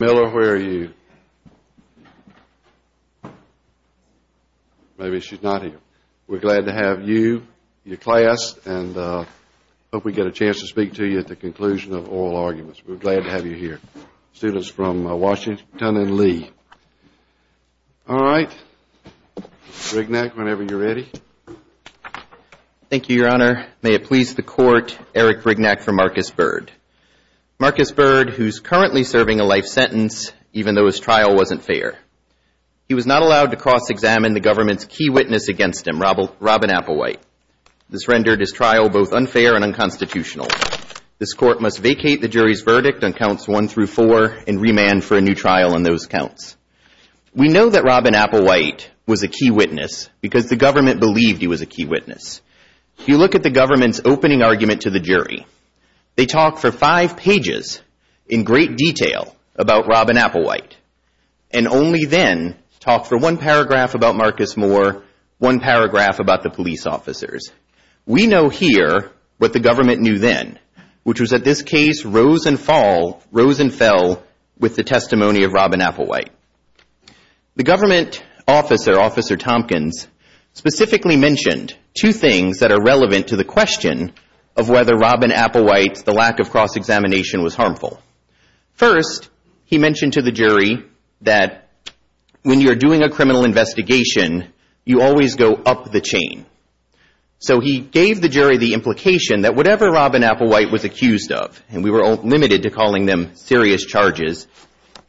Miller, where are you? Maybe she's not here. We're glad to have you, your class, and I hope we get a chance to speak to you at the conclusion of oral arguments. We're glad to have you here. Students from Washington and Lee. All right. Brignac, whenever you're ready. Thank you, Your Honor. May it please the Court, Eric Brignac for Marcus Byrd. Marcus Byrd, who's currently serving a life sentence, even though his trial wasn't fair. He was not allowed to cross-examine the government's key witness against him, Robin Applewhite. This rendered his trial both unfair and unconstitutional. This Court must vacate the jury's verdict on counts one through four and remand for a new trial on those counts. We know that Robin Applewhite was a key witness because the government believed he was a key witness. If you look at the government's opening argument to the jury, they talk for five pages in great detail about Robin Applewhite and only then talk for one paragraph about Marcus Moore, one paragraph about the police officers. We know here what the government knew then, which was that this case rose and fell with the government. Marcus Byrd, who was serving a life sentence, specifically mentioned two things that are relevant to the question of whether Robin Applewhite's lack of cross-examination was harmful. First, he mentioned to the jury that when you're doing a criminal investigation, you always go up the chain. So he gave the jury the implication that whatever Robin Applewhite was accused of, and we were limited to calling them serious charges,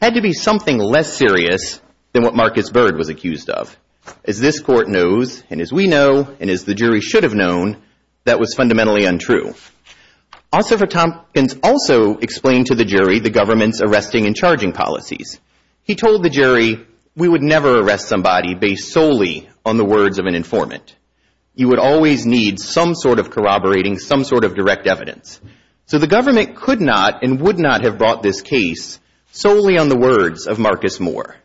had to be something less serious than what Marcus Byrd was accused of. As this Court knows, and as we know, and as the jury should have known, that was fundamentally untrue. Ossoff and Tompkins also explained to the jury the government's arresting and charging policies. He told the jury we would never arrest somebody based solely on the words of an informant. You would always need some sort of corroborating, some sort of direct investigation solely on the words of Marcus Moore.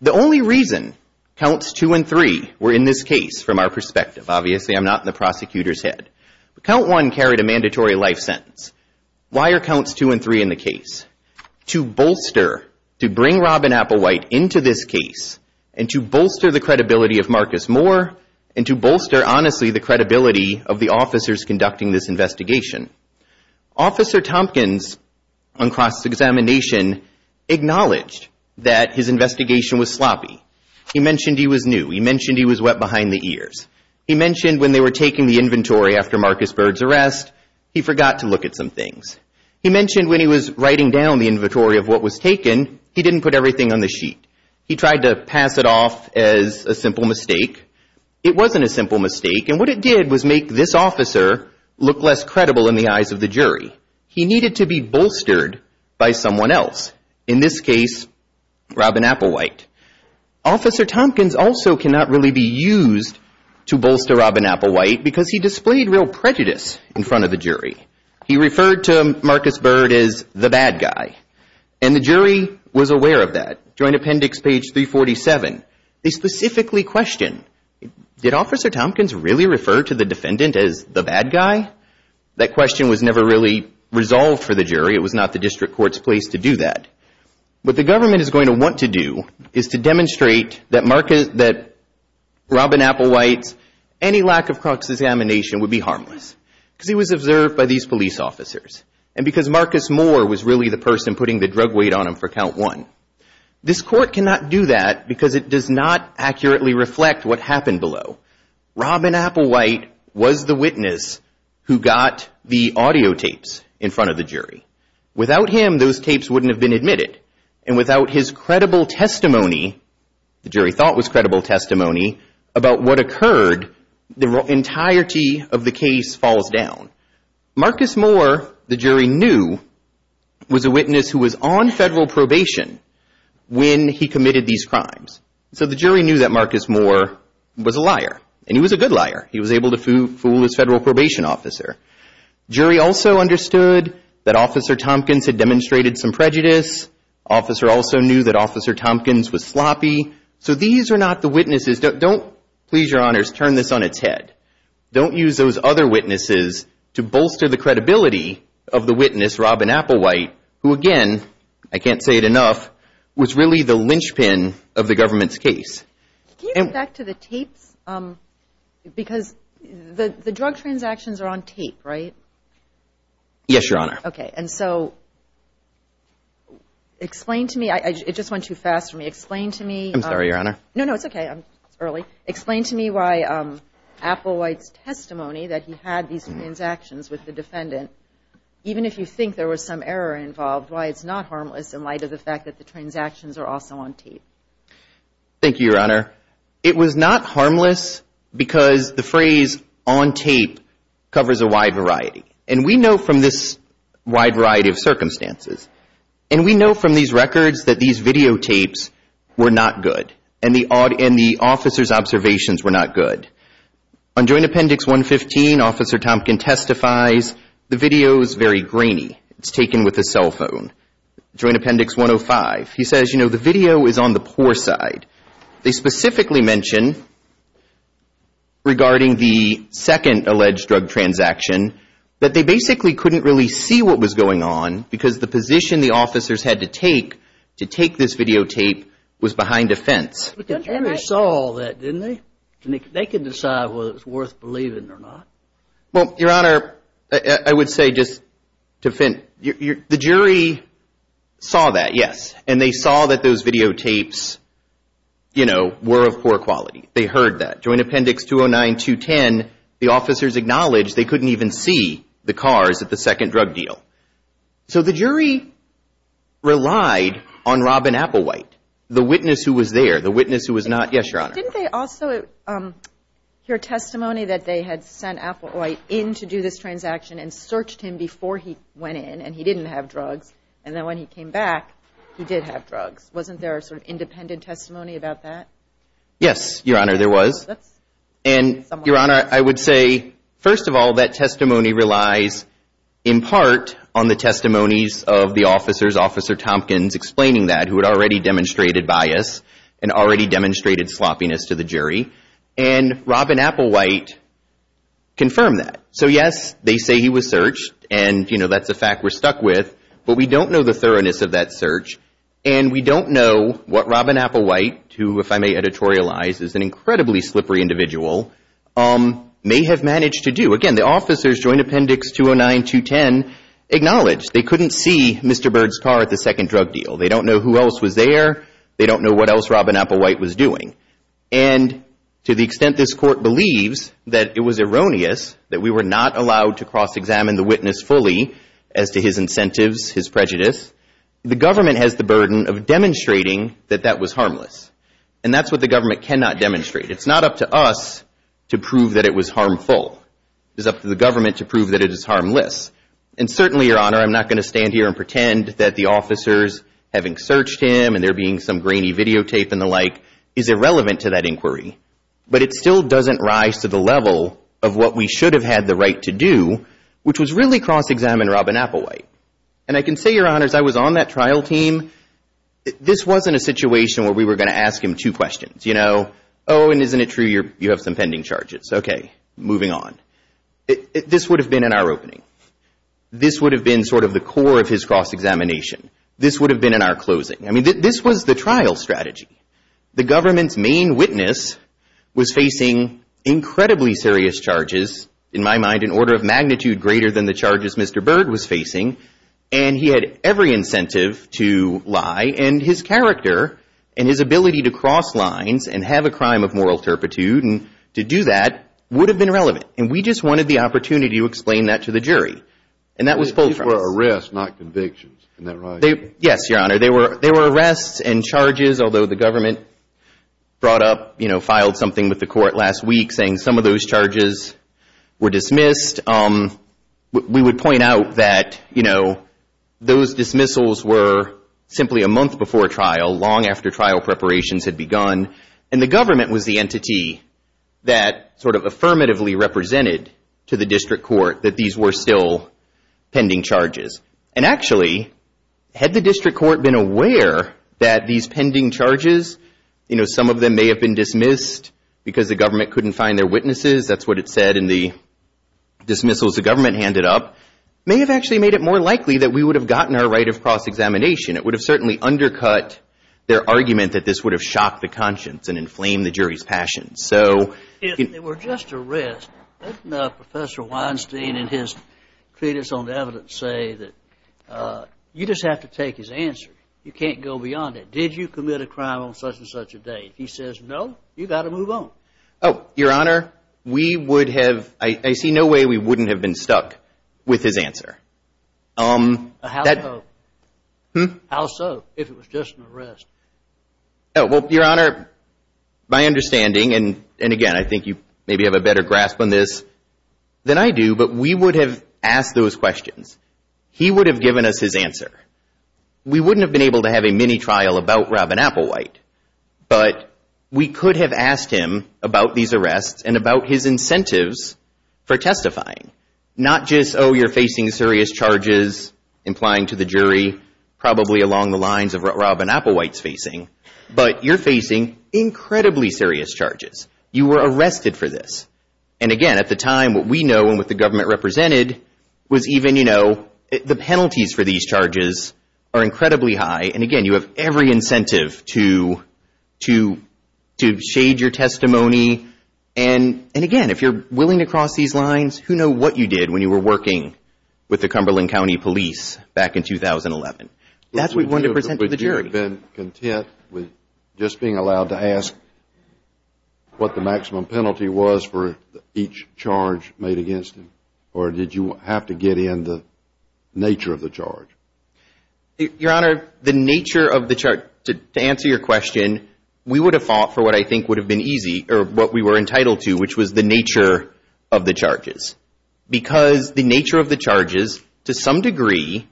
The only reason counts two and three were in this case, from our perspective, obviously I'm not in the prosecutor's head, but count one carried a mandatory life sentence. Why are counts two and three in the case? To bolster, to bring Robin Applewhite into this case, and to bolster the credibility of Marcus Moore, and to bolster, honestly, the credibility of the officers conducting this investigation. Officer Tompkins, on cross-examination, acknowledged that his investigation was sloppy. He mentioned he was new. He mentioned he was wet behind the ears. He mentioned when they were taking the inventory after Marcus Byrd's arrest, he forgot to look at some things. He mentioned when he was writing down the inventory of what was taken, he didn't put everything on the sheet. He tried to pass it off as a simple mistake. It wasn't a simple mistake, and what it did was make this officer look less credible in the eyes of the jury. He needed to be bolstered by someone else, in this case, Robin Applewhite. Officer Tompkins also cannot really be used to bolster Robin Applewhite, because he displayed real prejudice in front of the jury. He referred to Marcus Byrd as the bad guy, and the jury was aware of that. During appendix page 347, they specifically question, did Officer Tompkins really refer to the defendant as the bad guy? That question was never really resolved for the jury. It was not the district court's place to do that. What the government is going to want to do is to demonstrate that Robin Applewhite's any lack of cross-examination would be harmless, because he was observed by these police officers, and because Marcus Moore was really the person putting the drug weight on him for count one. This court cannot do that, because it does not accurately reflect what happened below. Robin Applewhite was the witness who got the audio tapes in front of the jury. Without him, those tapes wouldn't have been admitted, and without his credible testimony, the jury thought was credible testimony, about what occurred, the entirety of the case falls down. Marcus Moore, the jury knew, was a witness who was on federal probation when he committed these crimes. So the jury knew that Marcus Moore was a liar, and he was a good liar. He was able to fool his federal probation officer. Jury also understood that Officer Tompkins had demonstrated some prejudice. Officer also knew that Officer Tompkins was sloppy. So these are not the witnesses, don't, please your honors, turn this on its head. Don't use those other witnesses to bolster the credibility of the witness, Robin Applewhite, who again, I can't say it enough, was really the linchpin of the government's case. Can you go back to the tapes, because the drug transactions are on tape, right? Yes, your honor. Okay, and so, explain to me, it just went too fast for me, explain to me. I'm sorry, your honor. No, no, it's okay, it's early. Explain to me why Applewhite's testimony that he had these transactions with the defendant, even if you think there was some error involved, why it's not harmless in light of the fact that the transactions are also on tape. Thank you, your honor. It was not harmless because the phrase on tape covers a wide variety, and we know from this wide variety of circumstances, and we know from these records that these videotapes were not good, and the officer's observations were not good. On Joint Appendix 115, Officer Tompkins testifies, the video is very grainy. It's taken with a cell phone. Joint Appendix 105, he says, you know, the video is on the poor side. They specifically mention, regarding the second alleged drug transaction, that they basically couldn't really see what was going on, because the position the officers had to take to take this videotape was behind a fence. But the jury saw all that, didn't they? They could decide whether it was worth believing or not. Well, your honor, I would say just to finish, the jury saw that, yes, and they saw that those videotapes, you know, were of poor quality. They heard that. Joint Appendix 209-210, the officers acknowledged they couldn't even see the cars at the second drug deal. So the jury relied on Robin Applewhite, the witness who was there, the witness who was not. Yes, your honor. Didn't they also hear testimony that they had sent Applewhite in to do this transaction and searched him before he went in and he didn't have drugs? And then when he came back, he did have drugs. Wasn't there a sort of independent testimony about that? Yes, your honor, there was. And, your honor, I would say, first of all, that testimony relies in part on the testimonies of the officers, officer Tompkins explaining that who had already demonstrated bias and already demonstrated sloppiness to the jury. And Robin Applewhite confirmed that. So, yes, they say he was searched. And, you know, that's a fact we're stuck with. But we don't know the thoroughness of that search. And we don't know what Robin Applewhite, who, if I may editorialize, is an incredibly slippery individual, may have managed to do. Again, the officers, Joint Appendix 209-210, acknowledge they couldn't see Mr. Byrd's car at the second drug deal. They don't know who else was there. They don't know what else Robin Applewhite was doing. And to the extent this court believes that it was erroneous, that we were not allowed to cross-examine the witness fully as to his incentives, his prejudice, the government has the burden of demonstrating that that was harmless. And that's what the government cannot demonstrate. It's not up to us to prove that it was harmful. It is up to the government to prove that it is harmless. And certainly, Your Honor, I'm not going to stand here and pretend that the officers, having searched him and there being some grainy videotape and the like, is irrelevant to that inquiry. But it still doesn't rise to the level of what we should have had the right to do, which was really cross-examine Robin Applewhite. And I can say, Your Honors, I was on that trial team. This wasn't a situation where we were going to ask him two questions, you know. Oh, and isn't it true you have some pending charges? Okay, moving on. This would have been in our opening. This would have been sort of the core of his cross-examination. This would have been in our closing. I mean, this was the trial strategy. The government's main witness was facing incredibly serious charges, in my mind, an order of magnitude greater than the charges Mr. Byrd was facing. And he had every incentive to lie. And his character and his ability to cross lines and have a crime of moral turpitude and to do that would have been relevant. And we just wanted the opportunity to explain that to the jury. And that was pulled from us. The charges were dismissed. We would point out that, you know, those dismissals were simply a month before trial, long after trial preparations had begun. And the government was the entity that sort of affirmatively represented to the district court that these were still pending charges. And actually, had the district court been aware that these pending charges, you know, some of them may have been dismissed because the government couldn't find their witnesses, that's what it said in the dismissals the government handed up, may have actually made it more likely that we would have gotten our right of cross-examination. It would have certainly undercut their argument that this would have shocked the conscience and inflamed the jury's passion. If it were just a risk, wouldn't Professor Weinstein and his treatise on evidence say that you just have to take his answer, you can't go beyond it? Did you commit a crime on such and such a day? If he says no, you've got to move on. Oh, Your Honor, we would have, I see no way we wouldn't have been stuck with his answer. How so? How so, if it was just an arrest? Well, Your Honor, my understanding, and again, I think you maybe have a better grasp on this than I do, but we would have asked those questions. He would have given us his answer. We wouldn't have been able to have a mini-trial about Robin Applewhite, but we could have asked him about these arrests and about his incentives for testifying. Not just, oh, you're facing serious charges, implying to the jury, probably along the lines of what Robin Applewhite's facing, but you're facing incredibly serious charges. You were arrested for this, and again, at the time, what we know and what the government represented was even, you know, the penalties for these charges are incredibly high, and again, you have every incentive to shade your testimony, and again, if you're willing to cross these lines, who knew what you did when you were working with the Cumberland County Police back in 2011? That's what we wanted to present to the jury. Would you have been content with just being allowed to ask what the maximum penalty was for each charge made against him, or did you have to get in the nature of the charge? Your Honor, the nature of the charge, to answer your question, we would have fought for what I think would have been easy, or what we were entitled to, which was the nature of the charges, because the nature of the charges, to some degree,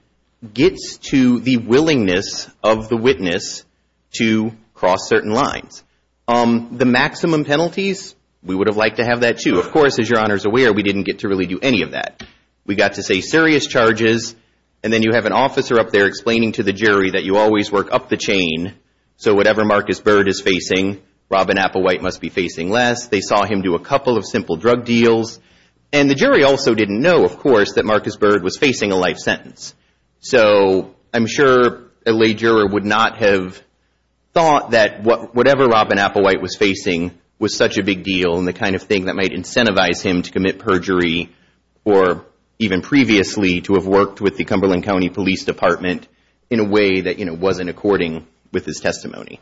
gets to the willingness of the witness to cross certain lines. The maximum penalties, we would have liked to have that, too. Of course, as your Honor is aware, we didn't get to really do any of that. We got to say serious charges, and then you have an officer up there explaining to the jury that you always work up the chain, so whatever Marcus Bird is facing, Robin Applewhite must be facing less. They saw him do a couple of simple drug deals, and the jury also didn't know, of course, that Marcus Bird was facing a life sentence. I'm sure a lay juror would not have thought that whatever Robin Applewhite was facing was such a big deal, and the kind of thing that might incentivize him to commit perjury, or even previously to have worked with the Cumberland County Police Department in a way that wasn't according with his testimony.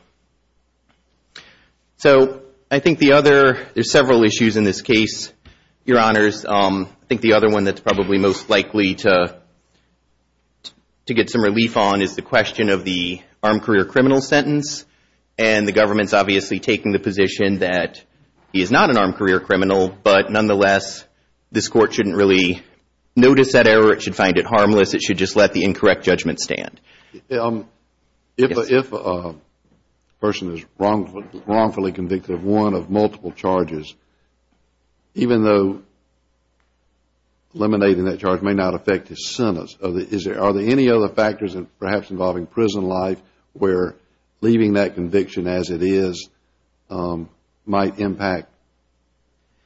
So I think the other, there's several issues in this case, your Honors. I think the other one that's probably most likely to get some relief on is the question of the armed career criminal sentence, and the government's obviously taking the position that he is not an armed career criminal, but nonetheless, this court shouldn't really notice that error. It should find it harmless. It should just let the incorrect judgment stand. If a person is wrongfully convicted of one of multiple charges, even though eliminating that charge may not affect his sentence, are there any other factors perhaps involving prison life where leaving that conviction as it is might impact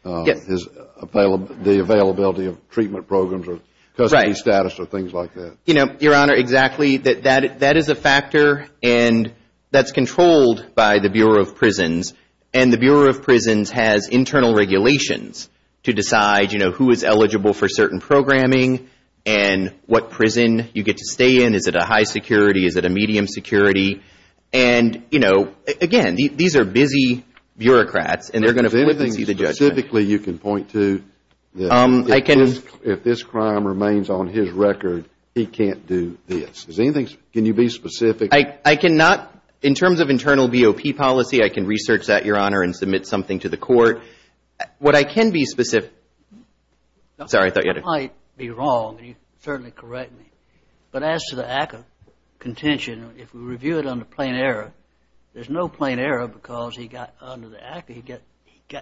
the availability of treatment programs or custody status or things like that? Your Honor, exactly. That is a factor, and that's controlled by the Bureau of Prisons, and the Bureau of Prisons has internal regulations to decide who is eligible for certain programming, and what prison you get to stay in. Is it a high security? Is it a medium security? And again, these are busy bureaucrats, and they're going to flip and see the judgment. Is there anything specifically you can point to that if this crime remains on his record, he can't do this? Can you be specific? In terms of internal BOP policy, I can research that, Your Honor, and submit something to the court. What I can be specific... Sorry, I thought you had a question. Your Honor, I might be wrong, and you can certainly correct me, but as to the ACCA contention, if we review it under plain error, there's no plain error because under the ACCA,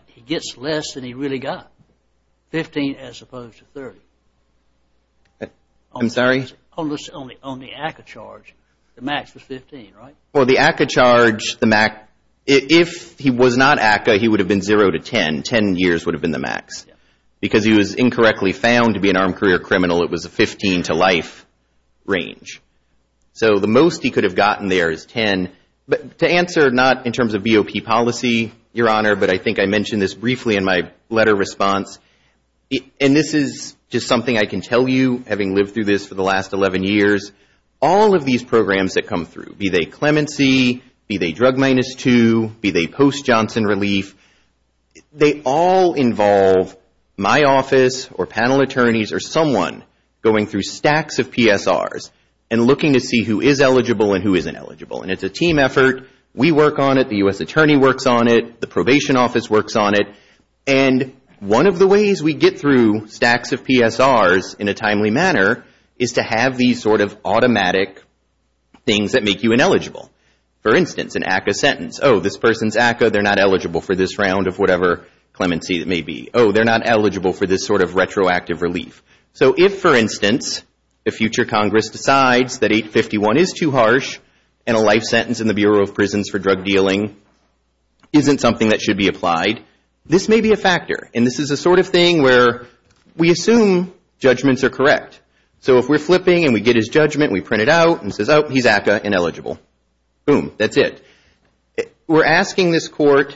he gets less than he really got, 15 as opposed to 30. I'm sorry? On the ACCA charge, the max was 15, right? For the ACCA charge, if he was not ACCA, he would have been 0 to 10. Ten years would have been the max because he was incorrectly found to be an armed career criminal. It was a 15 to life range. So the most he could have gotten there is 10. But to answer not in terms of BOP policy, Your Honor, but I think I mentioned this briefly in my letter response, and this is just something I can tell you, having lived through this for the last 11 years, all of these programs that come through, be they clemency, be they drug minus two, be they post Johnson relief, they all involve my office or panel attorneys or someone going through stacks of PSRs and looking to see who is eligible and who isn't eligible. And it's a team effort. We work on it. The U.S. attorney works on it. The probation office works on it. And one of the ways we get through stacks of PSRs in a timely manner is to have these sort of automatic things that make you ineligible. For instance, an ACCA sentence. Oh, this person's ACCA, they're not eligible for this round of whatever clemency it may be. Oh, they're not eligible for this sort of retroactive relief. So if, for instance, the future Congress decides that 851 is too harsh and a life sentence in the Bureau of Prisons for drug dealing isn't something that should be applied, this may be a factor. And this is the sort of thing where we assume judgments are correct. So if we're flipping and we get his judgment, we print it out and it says, oh, he's ACCA and eligible. Boom, that's it. We're asking this court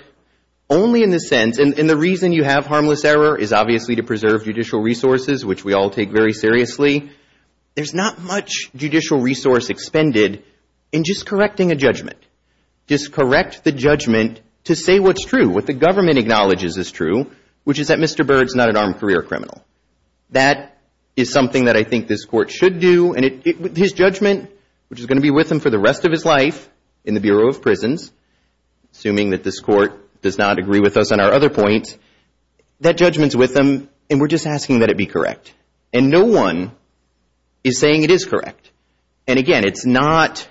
only in the sense, and the reason you have harmless error is obviously to preserve judicial resources, which we all take very seriously. There's not much judicial resource expended in just correcting a judgment. Just correct the judgment to say what's true, what the government acknowledges is true, which is that Mr. Byrd's not an armed career criminal. That is something that I think this court should do, and his judgment, which is going to be with him for the rest of his life in the Bureau of Prisons, assuming that this court does not agree with us on our other points, that judgment's with him, and we're just asking that it be correct. And no one is saying it is correct. And again, that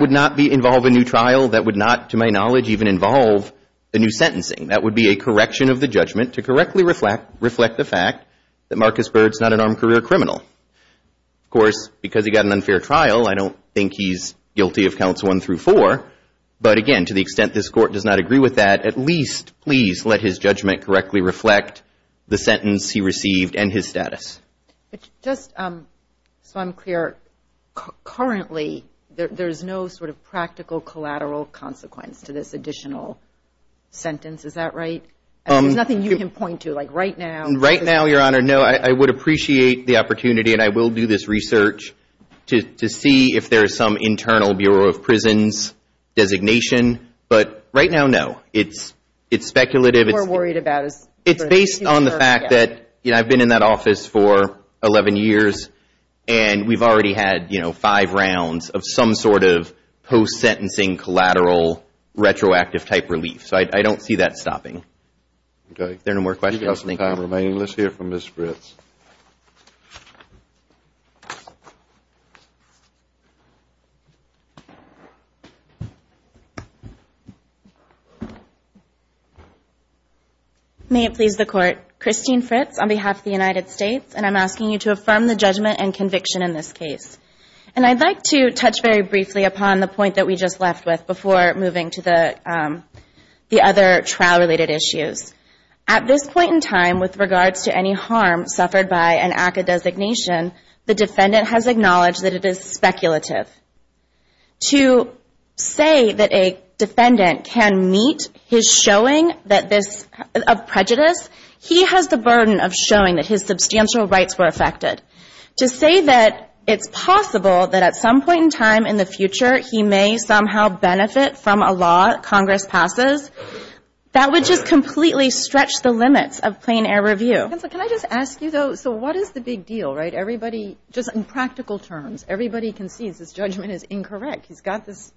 would not involve a new trial. That would not, to my knowledge, even involve a new sentencing. That would be a correction of the judgment to correctly reflect the fact that Marcus Byrd's not an armed career criminal. Of course, because he got an unfair trial, I don't think he's guilty of counts one through four. But again, to the extent this court does not agree with that, at least please let his judgment correctly reflect the sentence he received and his status. But just so I'm clear, currently there's no sort of practical collateral consequence to this additional sentence. Is that right? There's nothing you can point to, like right now. Right now, Your Honor, no, I would appreciate the opportunity, and I will do this research, to see if there is some internal Bureau of Prisons designation. But right now, no. It's speculative. It's based on the fact that I've been in that office for 11 years, and we've already had five rounds of some sort of post-sentencing collateral retroactive type relief. So I don't see that stopping. If there are no more questions, thank you. May it please the Court. Christine Fritz on behalf of the United States, and I'm asking you to affirm the judgment and conviction in this case. And I'd like to touch very briefly upon the point that we just left with, before moving to the other trial-related issues. At this point in time, with regards to any harm suffered by an act of designation, the defendant has acknowledged that it is speculative. To say that a defendant can meet his showing of prejudice, he has the burden of showing that his substantial rights were affected. To say that it's possible that at some point in time in the future he may somehow benefit from a law Congress passes, that would just completely stretch the limits of plain air review. Can I just ask you, though, so what is the big deal, right? Everybody, just in practical terms, everybody concedes this judgment is incorrect. He's got this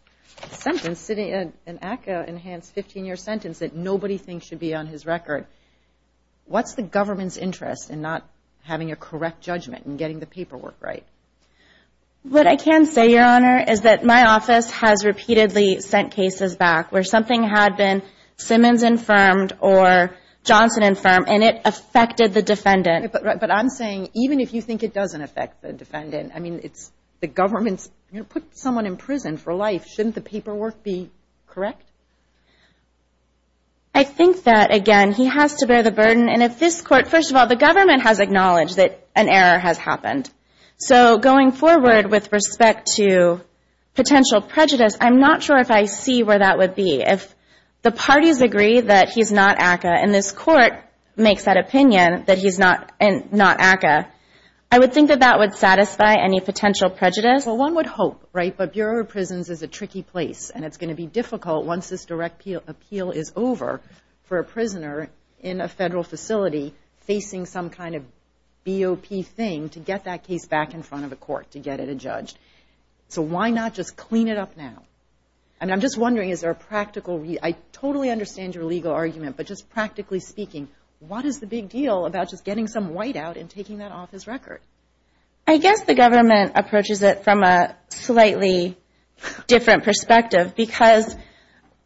sentence sitting, an ACCA-enhanced 15-year sentence that nobody thinks should be on his record. What's the government's interest in not having a correct judgment and getting the paperwork right? What I can say, Your Honor, is that my office has repeatedly sent cases back where something had been Simmons-infirmed or Johnson-infirmed, and it affected the defendant. But I'm saying even if you think it doesn't affect the defendant, I mean, it's the government's put someone in prison for life. Shouldn't the paperwork be correct? I think that, again, he has to bear the burden. And if this Court, first of all, the government has acknowledged that an error has happened. So going forward with respect to potential prejudice, I'm not sure if I see where that would be. If the parties agree that he's not ACCA and this Court makes that opinion that he's not ACCA, I would think that that would satisfy any potential prejudice. Well, one would hope, right? But Bureau of Prisons is a tricky place, and it's going to be difficult once this direct appeal is over for a prisoner in a Federal facility facing some kind of BOP thing to get that case back in front of a court to get it adjudged. So why not just clean it up now? And I'm just wondering, is there a practical I totally understand your legal argument, but just practically speaking, what is the big deal about just getting some white out and taking that off his record? I guess the government approaches it from a slightly different perspective, because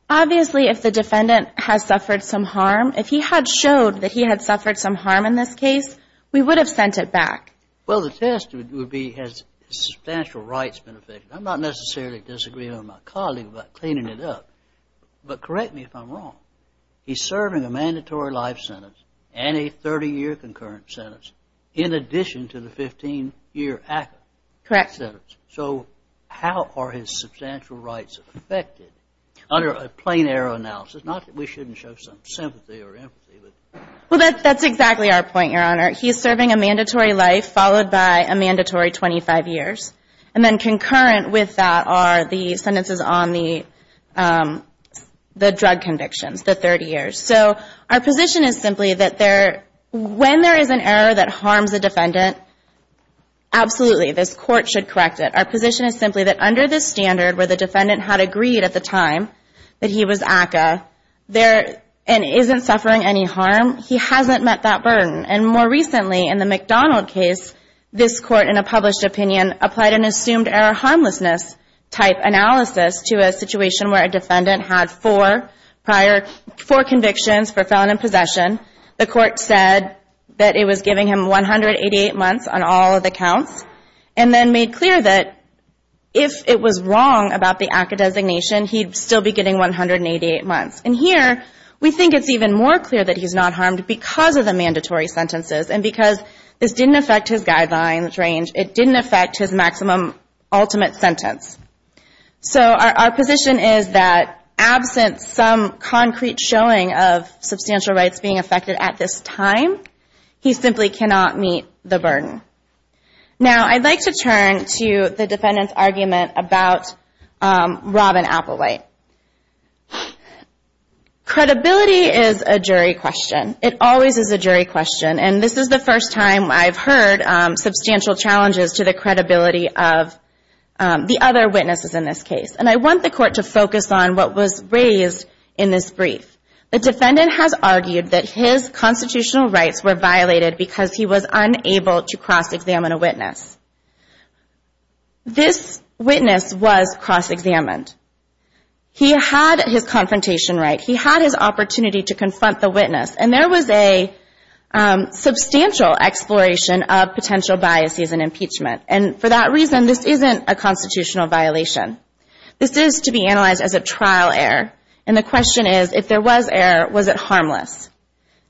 obviously if the defendant has suffered some harm, if he had showed that he had suffered some harm in this case, we would have sent it back. Well, the test would be, has his substantial rights been affected? I'm not necessarily disagreeing with my colleague about cleaning it up, but correct me if I'm wrong. He's serving a mandatory life sentence and a 30-year concurrent sentence in addition to the 15-year ACCA sentence. Correct. So how are his substantial rights affected under a plain error analysis? We shouldn't show some sympathy or empathy. Well, that's exactly our point, Your Honor. He's serving a mandatory life followed by a mandatory 25 years. And then concurrent with that are the sentences on the drug convictions, the 30 years. So our position is simply that when there is an error that harms a defendant, absolutely, this court should correct it. Our position is simply that under this standard where the defendant had agreed at the time that he was ACCA and isn't suffering any harm, he hasn't met that burden. And more recently in the McDonald case, this court in a published opinion applied an assumed error harmlessness type analysis to a situation where a defendant had four convictions for felon in possession. The court said that it was giving him 188 months on all of the counts, and then made clear that if it was wrong about the ACCA designation, he'd still be getting 188 months. And here we think it's even more clear that he's not harmed because of the mandatory sentences and because this didn't affect his guidelines range. It didn't affect his maximum ultimate sentence. So our position is that absent some concrete showing of substantial rights being affected at this time, he simply cannot meet the burden. Now I'd like to turn to the defendant's argument about Robin Applewhite. Credibility is a jury question. It always is a jury question. And this is the first time I've heard substantial challenges to the credibility of the other witnesses in this case. And I want the court to focus on what was raised in this brief. The defendant has argued that his constitutional rights were violated because he was unable to cross-examine a witness. This witness was cross-examined. He had his confrontation right. He had his opportunity to confront the witness. And there was a substantial exploration of potential biases in impeachment. And for that reason, this isn't a constitutional violation. This is to be analyzed as a trial error. And the question is, if there was error, was it harmless?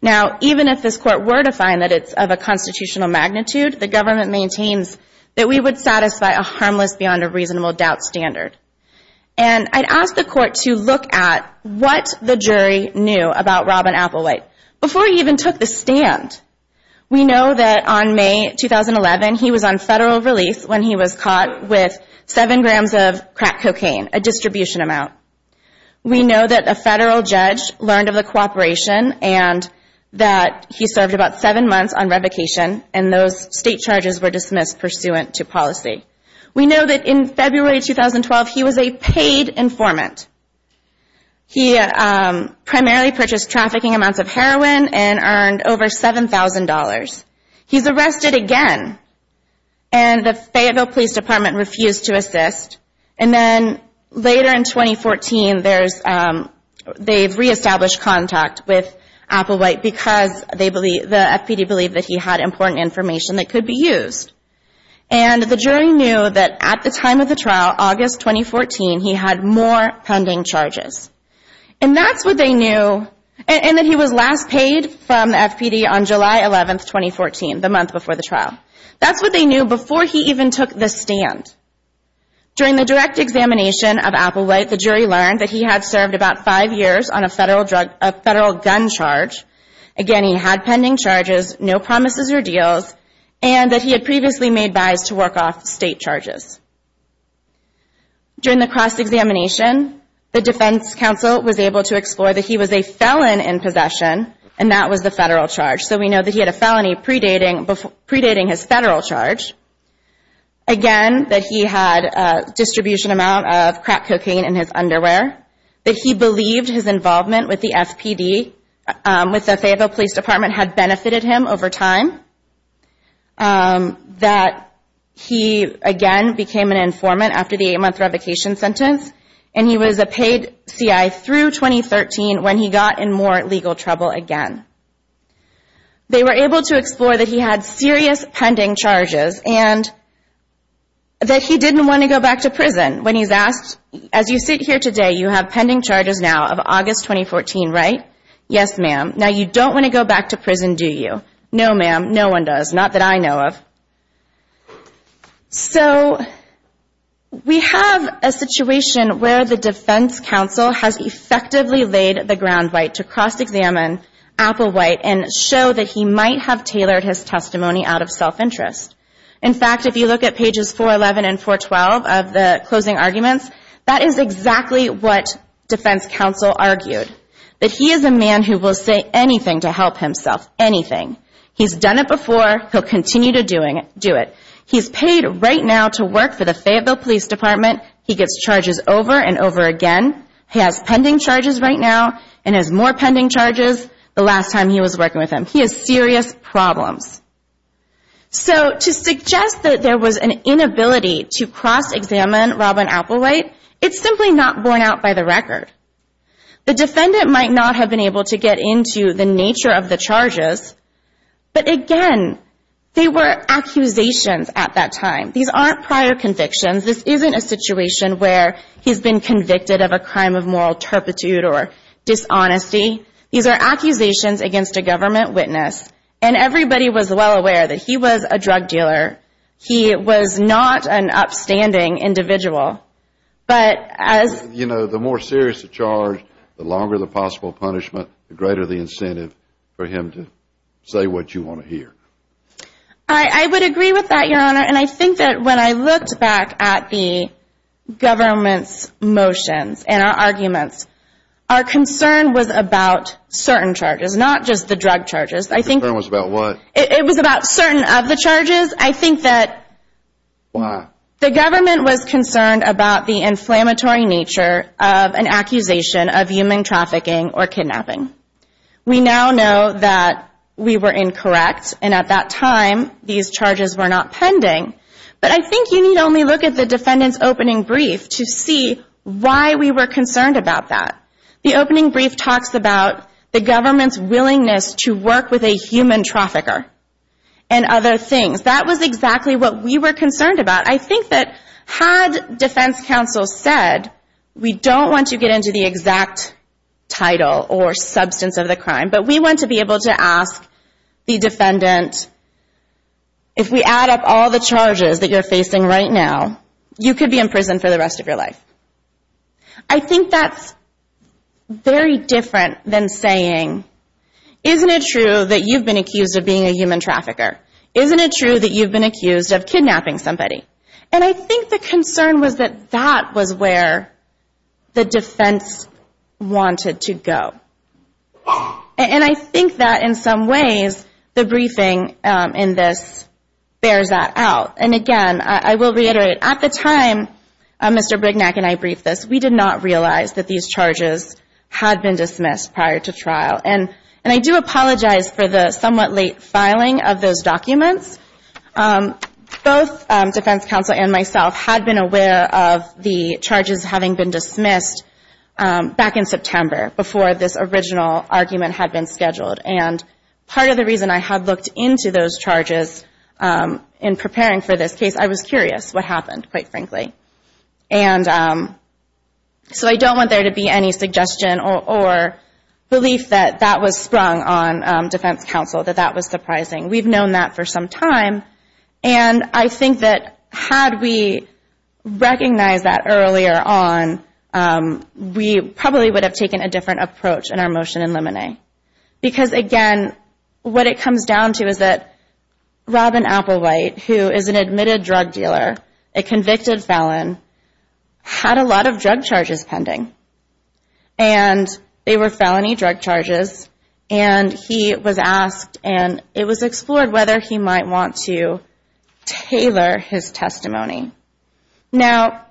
Now even if this court were to find that it's of a constitutional magnitude, the government maintains that we would satisfy a harmless beyond a reasonable doubt standard. And I'd ask the court to look at what the jury knew about Robin Applewhite before he even took the stand. We know that on May 2011, he was on federal release when he was caught with seven grams of crack cocaine, a distribution amount. We know that a federal judge learned of the cooperation and that he served about seven months on revocation and those state charges were dismissed pursuant to policy. We know that in February 2012, he was a paid informant. He primarily purchased trafficking amounts of heroin and earned over $7,000. He's arrested again and the Fayetteville Police Department refused to assist. And then later in 2014, they've reestablished contact with Applewhite because the FPD believed that he had important information that could be used. And the jury knew that at the time of the trial, August 2014, he had more pending charges. And that's what they knew, and that he was last paid from the FPD on July 11, 2014, the month before the trial. That's what they knew before he even took the stand. During the direct examination of Applewhite, the jury learned that he had served about five years on a federal gun charge. Again, he had pending charges, no promises or deals, and that he had previously made buys to work off state charges. During the cross-examination, the defense counsel was able to explore that he was a felon in possession and that was the federal charge. So we know that he had a felony predating his federal charge. Again, that he had a distribution amount of crack cocaine in his underwear. That he believed his involvement with the FPD, with the Fayetteville Police Department, had benefited him over time. That he, again, became an informant after the eight-month revocation sentence. And he was a paid C.I. through 2013 when he got in more legal trouble again. They were able to explore that he had serious pending charges and that he didn't want to go back to prison. When he's asked, as you sit here today, you have pending charges now of August 2014, right? Yes, ma'am. Now you don't want to go back to prison, do you? No, ma'am. No one does. Not that I know of. So we have a situation where the defense counsel has effectively laid the ground right to cross-examine Applewhite and show that he might have tailored his testimony out of self-interest. In fact, if you look at pages 411 and 412 of the closing arguments, that is exactly what defense counsel argued. That he is a man who will say anything to help himself. Anything. He's done it before. He'll continue to do it. He's paid right now to work for the Fayetteville Police Department. He gets charges over and over again. He has pending charges right now and has more pending charges the last time he was working with him. He has serious problems. So to suggest that there was an inability to cross-examine Robin Applewhite, it's simply not borne out by the record. The defendant might not have been able to get into the nature of the charges, but again, they were accusations at that time. These aren't prior convictions. This isn't a situation where he's been convicted of a crime of moral turpitude or dishonesty. These are accusations against a government witness. And everybody was well aware that he was a drug dealer. He was not an upstanding individual. You know, the more serious the charge, the longer the possible punishment, the greater the incentive for him to say what you want to hear. I would agree with that, Your Honor. And I think that when I looked back at the government's motions and our arguments, our concern was about certain charges, not just the drug charges. Your concern was about what? It was about certain of the charges. I think that the government was concerned about the inflammatory nature of an accusation of human trafficking or kidnapping. We now know that we were incorrect, and at that time, these charges were not pending. But I think you need only look at the defendant's opening brief to see why we were concerned about that. The opening brief talks about the government's willingness to work with a human trafficker and other things. That was exactly what we were concerned about. I think that had defense counsel said, we don't want to get into the exact title or substance of the crime, but we want to be able to ask the defendant, if we add up all the charges that you're facing right now, you could be in prison for the rest of your life. I think that's very different than saying, isn't it true that you've been accused of being a human trafficker? Isn't it true that you've been accused of kidnapping somebody? And I think the concern was that that was where the defense wanted to go. And I think that in some ways, the briefing in this bears that out. And again, I will reiterate, at the time Mr. Brignac and I briefed this, we did not realize that these charges had been dismissed prior to trial. And I do apologize for the somewhat late filing of those documents. Both defense counsel and myself had been aware of the charges having been dismissed back in September, before this original argument had been scheduled. And part of the reason I had looked into those charges in preparing for this case, I was curious what happened, quite frankly. So I don't want there to be any suggestion or belief that that was sprung on defense counsel, that that was surprising. We've known that for some time, and I think that had we recognized that earlier on, we probably would have taken a different approach in our motion in Lemonay. Because again, what it comes down to is that Robin Applewhite, who is an admitted drug dealer, a convicted felon, had a lot of drug charges pending. And they were felony drug charges. And he was asked, and it was explored, whether he might want to tailor his testimony. Now,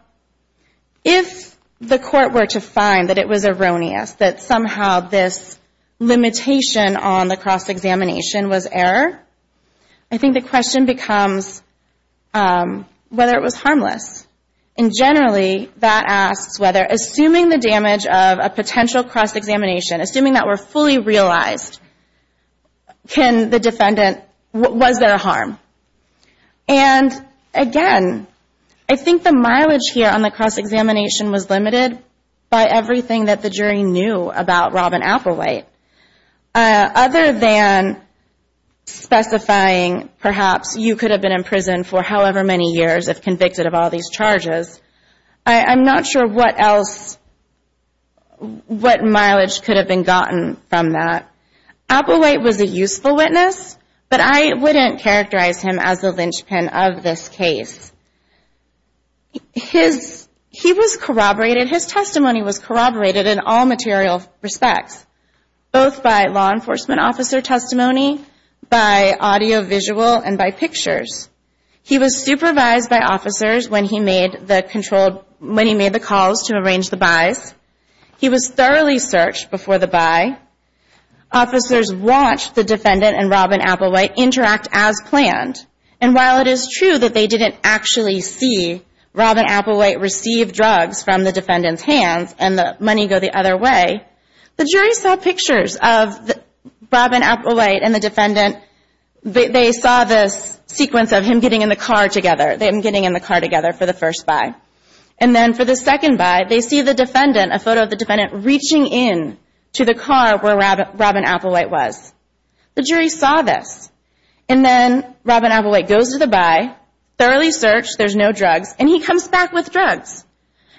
if the court were to find that it was erroneous, that somehow this limitation on the cross-examination was error, I think the question becomes whether it was harmless. And generally, that asks whether, assuming the damage of a potential cross-examination, assuming that were fully realized, was there harm? And again, I think the mileage here on the cross-examination was limited by everything that the jury knew about Robin Applewhite. Other than specifying perhaps you could have been in prison for however many years if convicted of all these charges, I'm not sure what else, what mileage could have been gotten from that. Applewhite was a useful witness, but I wouldn't characterize him as a linchpin of this case. His testimony was corroborated in all material respects, both by law enforcement officer testimony, by audiovisual, and by pictures. He was supervised by officers when he made the calls to arrange the buys. He was thoroughly searched before the buy. Officers watched the defendant and Robin Applewhite interact as planned. And while it is true that they didn't actually see Robin Applewhite receive drugs from the defendant's hands and the money go the other way, the jury saw pictures of Robin Applewhite and the defendant, they saw this sequence of him getting in the car together, them getting in the car together for the first buy. And then for the second buy, they see the defendant, a photo of the defendant reaching in to the car where Robin Applewhite was. The jury saw this. And then Robin Applewhite goes to the buy, thoroughly searched, there's no drugs, and he comes back with drugs.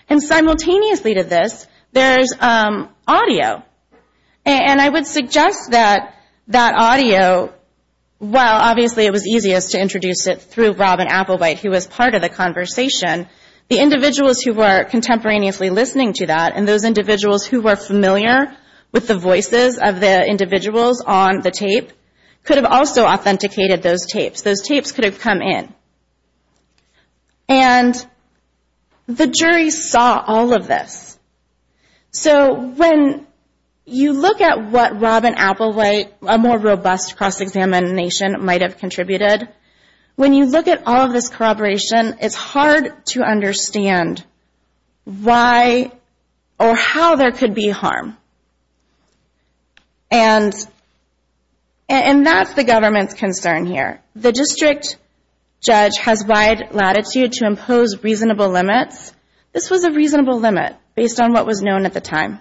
And simultaneously to this, there's audio. And I would suggest that that audio, while obviously it was easiest to introduce it through Robin Applewhite who was part of the conversation, the individuals who were contemporaneously listening to that and those individuals who were familiar with the voices of the individuals on the tape, could have also authenticated those tapes. Those tapes could have come in. And the jury saw all of this. So when you look at what Robin Applewhite, a more robust cross-examination might have contributed, when you look at all of this corroboration, it's hard to understand why or how there could be harm. And that's the government's concern here. The district judge has wide latitude to impose reasonable limits. This was a reasonable limit based on what was known at the time.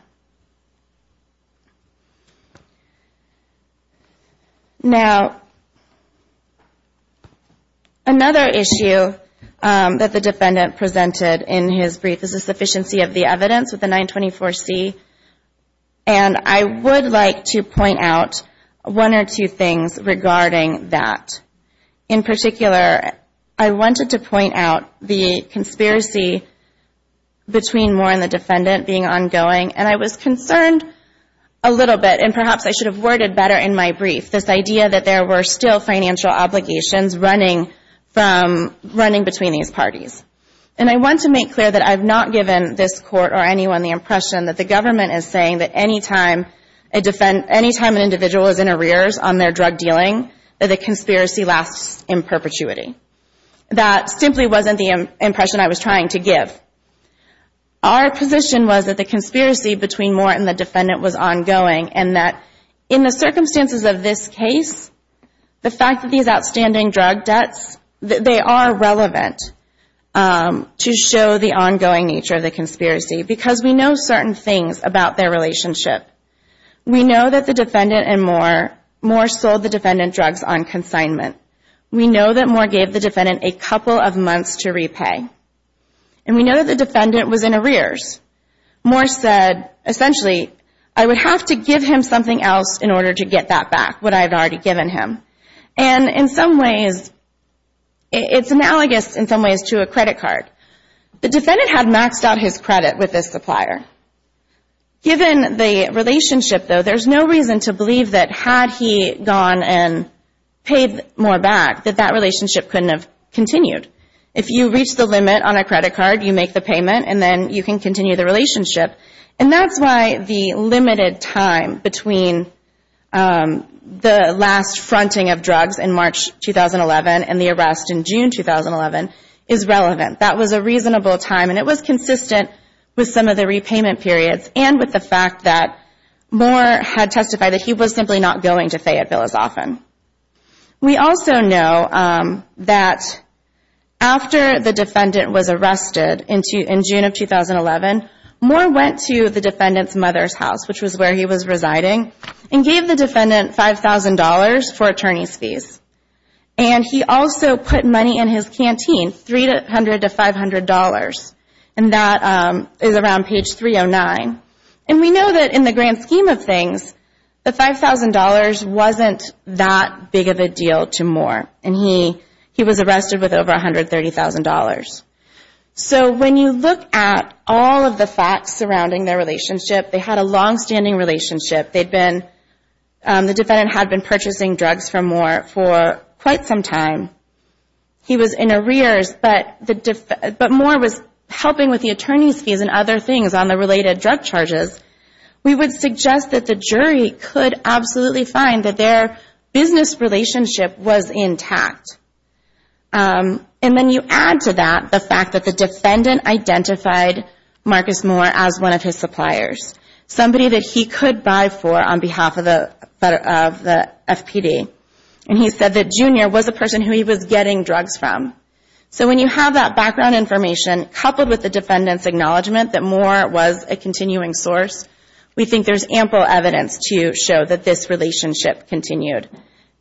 Now, another issue that the defendant presented in his brief is the sufficiency of the evidence with the 924C. And I would like to point out one or two things regarding that. In particular, I wanted to point out the conspiracy between Moore and the defendant being ongoing. And I was concerned a little bit, and perhaps I should have worded better in my brief, this idea that there were still financial obligations running between these parties. And I want to make clear that I've not given this Court or anyone the impression that the government is saying that any time an individual is in arrears on their drug dealing, that the conspiracy lasts in perpetuity. That simply wasn't the impression I was trying to give. Our position was that the conspiracy between Moore and the defendant was ongoing, and that in the circumstances of this case, the fact that these outstanding drug debts, they are relevant to show the ongoing nature of the conspiracy, because we know certain things about their relationship. We know that the defendant and Moore, Moore sold the defendant drugs on consignment. We know that Moore gave the defendant a couple of months to repay. And we know that the defendant was in arrears. Moore said, essentially, I would have to give him something else in order to get that back, what I had already given him. And in some ways, it's analogous in some ways to a credit card. The defendant had maxed out his credit with this supplier. Given the relationship, though, there's no reason to believe that had he gone and paid Moore back, that that relationship couldn't have continued. If you reach the limit on a credit card, you make the payment, and then you can continue the relationship. And that's why the limited time between the last fronting of drugs in March 2011 and the arrest in June 2011 is relevant. That was a reasonable time, and it was consistent with some of the repayment periods and with the fact that Moore had testified that he was simply not going to Fayetteville as often. We also know that after the defendant was arrested in June of 2011, he went to the defendant's mother's house, which was where he was residing, and gave the defendant $5,000 for attorney's fees. And he also put money in his canteen, $300 to $500. And that is around page 309. And we know that in the grand scheme of things, the $5,000 wasn't that big of a deal to Moore. And he was arrested with over $130,000. So when you look at all of the facts surrounding their relationship, they had a longstanding relationship. The defendant had been purchasing drugs from Moore for quite some time. He was in arrears, but Moore was helping with the attorney's fees and other things on the related drug charges. We would suggest that the jury could absolutely find that their business relationship was intact. And then you add to that the fact that the defendant identified Marcus Moore as one of his suppliers, somebody that he could buy for on behalf of the FPD. And he said that Junior was a person who he was getting drugs from. So when you have that background information, coupled with the defendant's acknowledgement that Moore was a continuing source, we think there's ample evidence to show that this relationship continued.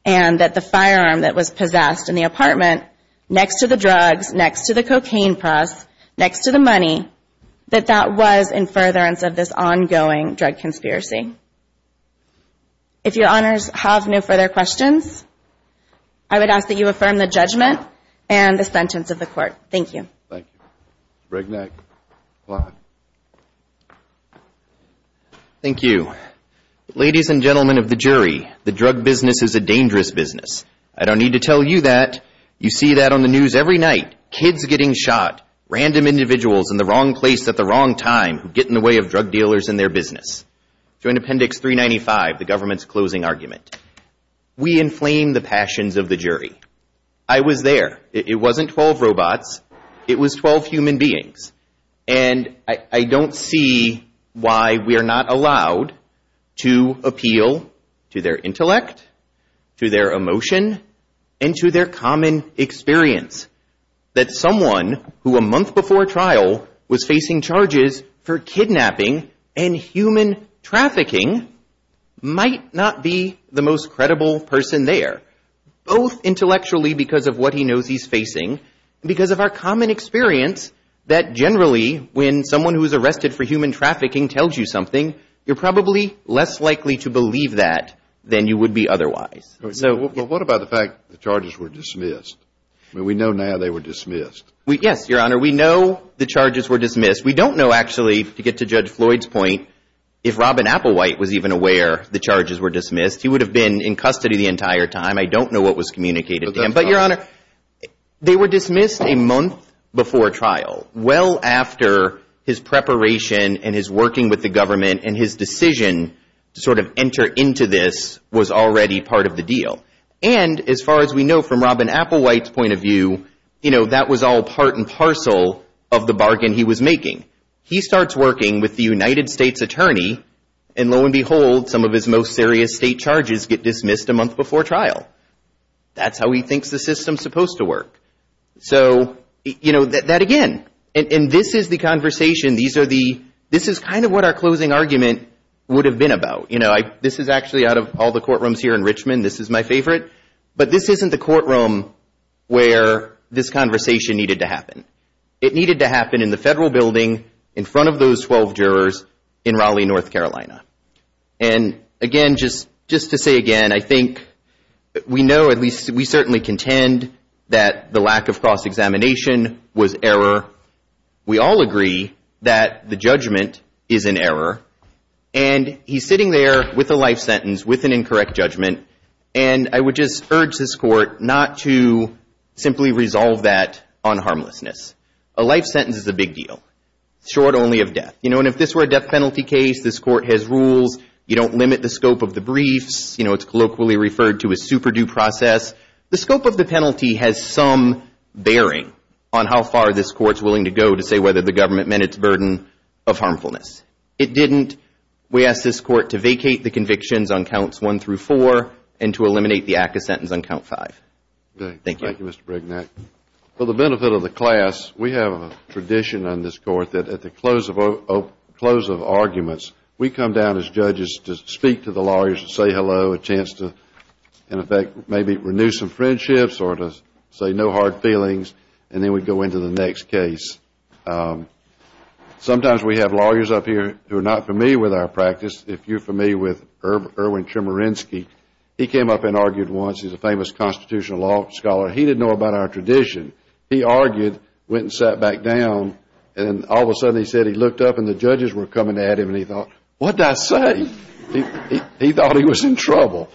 And that the firearm that was possessed in the apartment, next to the drugs, next to the cocaine press, next to the money, that that was in furtherance of this ongoing drug conspiracy. If your honors have no further questions, I would ask that you affirm the judgment and the sentence of the court. Thank you. Thank you. Ladies and gentlemen of the jury, the drug business is a dangerous business. I don't need to tell you that. You see that on the news every night. Kids getting shot, random individuals in the wrong place at the wrong time who get in the way of drug dealers and their business. We inflame the passions of the jury. I was there. It wasn't 12 robots. It was 12 human beings. And I don't see why we are not allowed to appeal to their intellect, to their emotion, and to their common experience. That someone who a month before trial was facing charges for kidnapping and human trafficking might not be the most credible person there. Both intellectually because of what he knows he's facing and because of our common experience that generally when someone who is arrested for human trafficking tells you something, you're probably less likely to believe that than you would be otherwise. What about the fact the charges were dismissed? We know now they were dismissed. Yes, your honor. We know the charges were dismissed. We don't know actually, to get to Judge Floyd's point, if Robin Applewhite was even aware the charges were dismissed, he would have been in custody the entire time. I don't know what was communicated to him. But your honor, they were dismissed a month before trial. Well after his preparation and his working with the government and his decision to sort of enter into this was already part of the deal. And as far as we know from Robin Applewhite's point of view, you know, that was all part and parcel of the bargain he was making. He starts working with the United States attorney and lo and behold some of his most serious state charges get dismissed a month before trial. That's how he thinks the system is supposed to work. So, you know, that again, and this is the conversation. This is kind of what our closing argument would have been about. This is actually out of all the courtrooms here in Richmond. This is my favorite. But this isn't the courtroom where this conversation needed to happen. It needed to happen in the federal building in front of those 12 jurors in Raleigh, North Carolina. And again, just to say again, I think we know, at least we certainly contend that the lack of cross-examination was error. We all agree that the judgment is an error. And he's sitting there with a life sentence, with an incorrect judgment. And I would just urge this court not to simply resolve that on harmlessness. A life sentence is a big deal. Short only of death. You know, and if this were a death penalty case, this court has rules. You don't limit the scope of the briefs. You know, it's colloquially referred to as super-due process. The scope of the penalty has some bearing on how far this court's willing to go to say whether the government met its burden of harmfulness. It didn't. We ask this court to vacate the convictions on counts one through four and to eliminate the act of sentence on count five. Thank you. For the benefit of the class, we have a tradition on this court that at the close of arguments, we come down as judges to speak to the lawyers and say hello, a chance to, in effect, maybe renew some friendships or to say no hard feelings and then we go into the next case. Sometimes we have lawyers up here who are not familiar with our practice. If you're familiar with Erwin Chemerinsky, he came up and argued once. He's a famous constitutional law scholar. He didn't know about our tradition. He argued, went and sat back down and all of a sudden he said he looked up and the judges were coming at him and he thought, what did I say? He thought he was in trouble.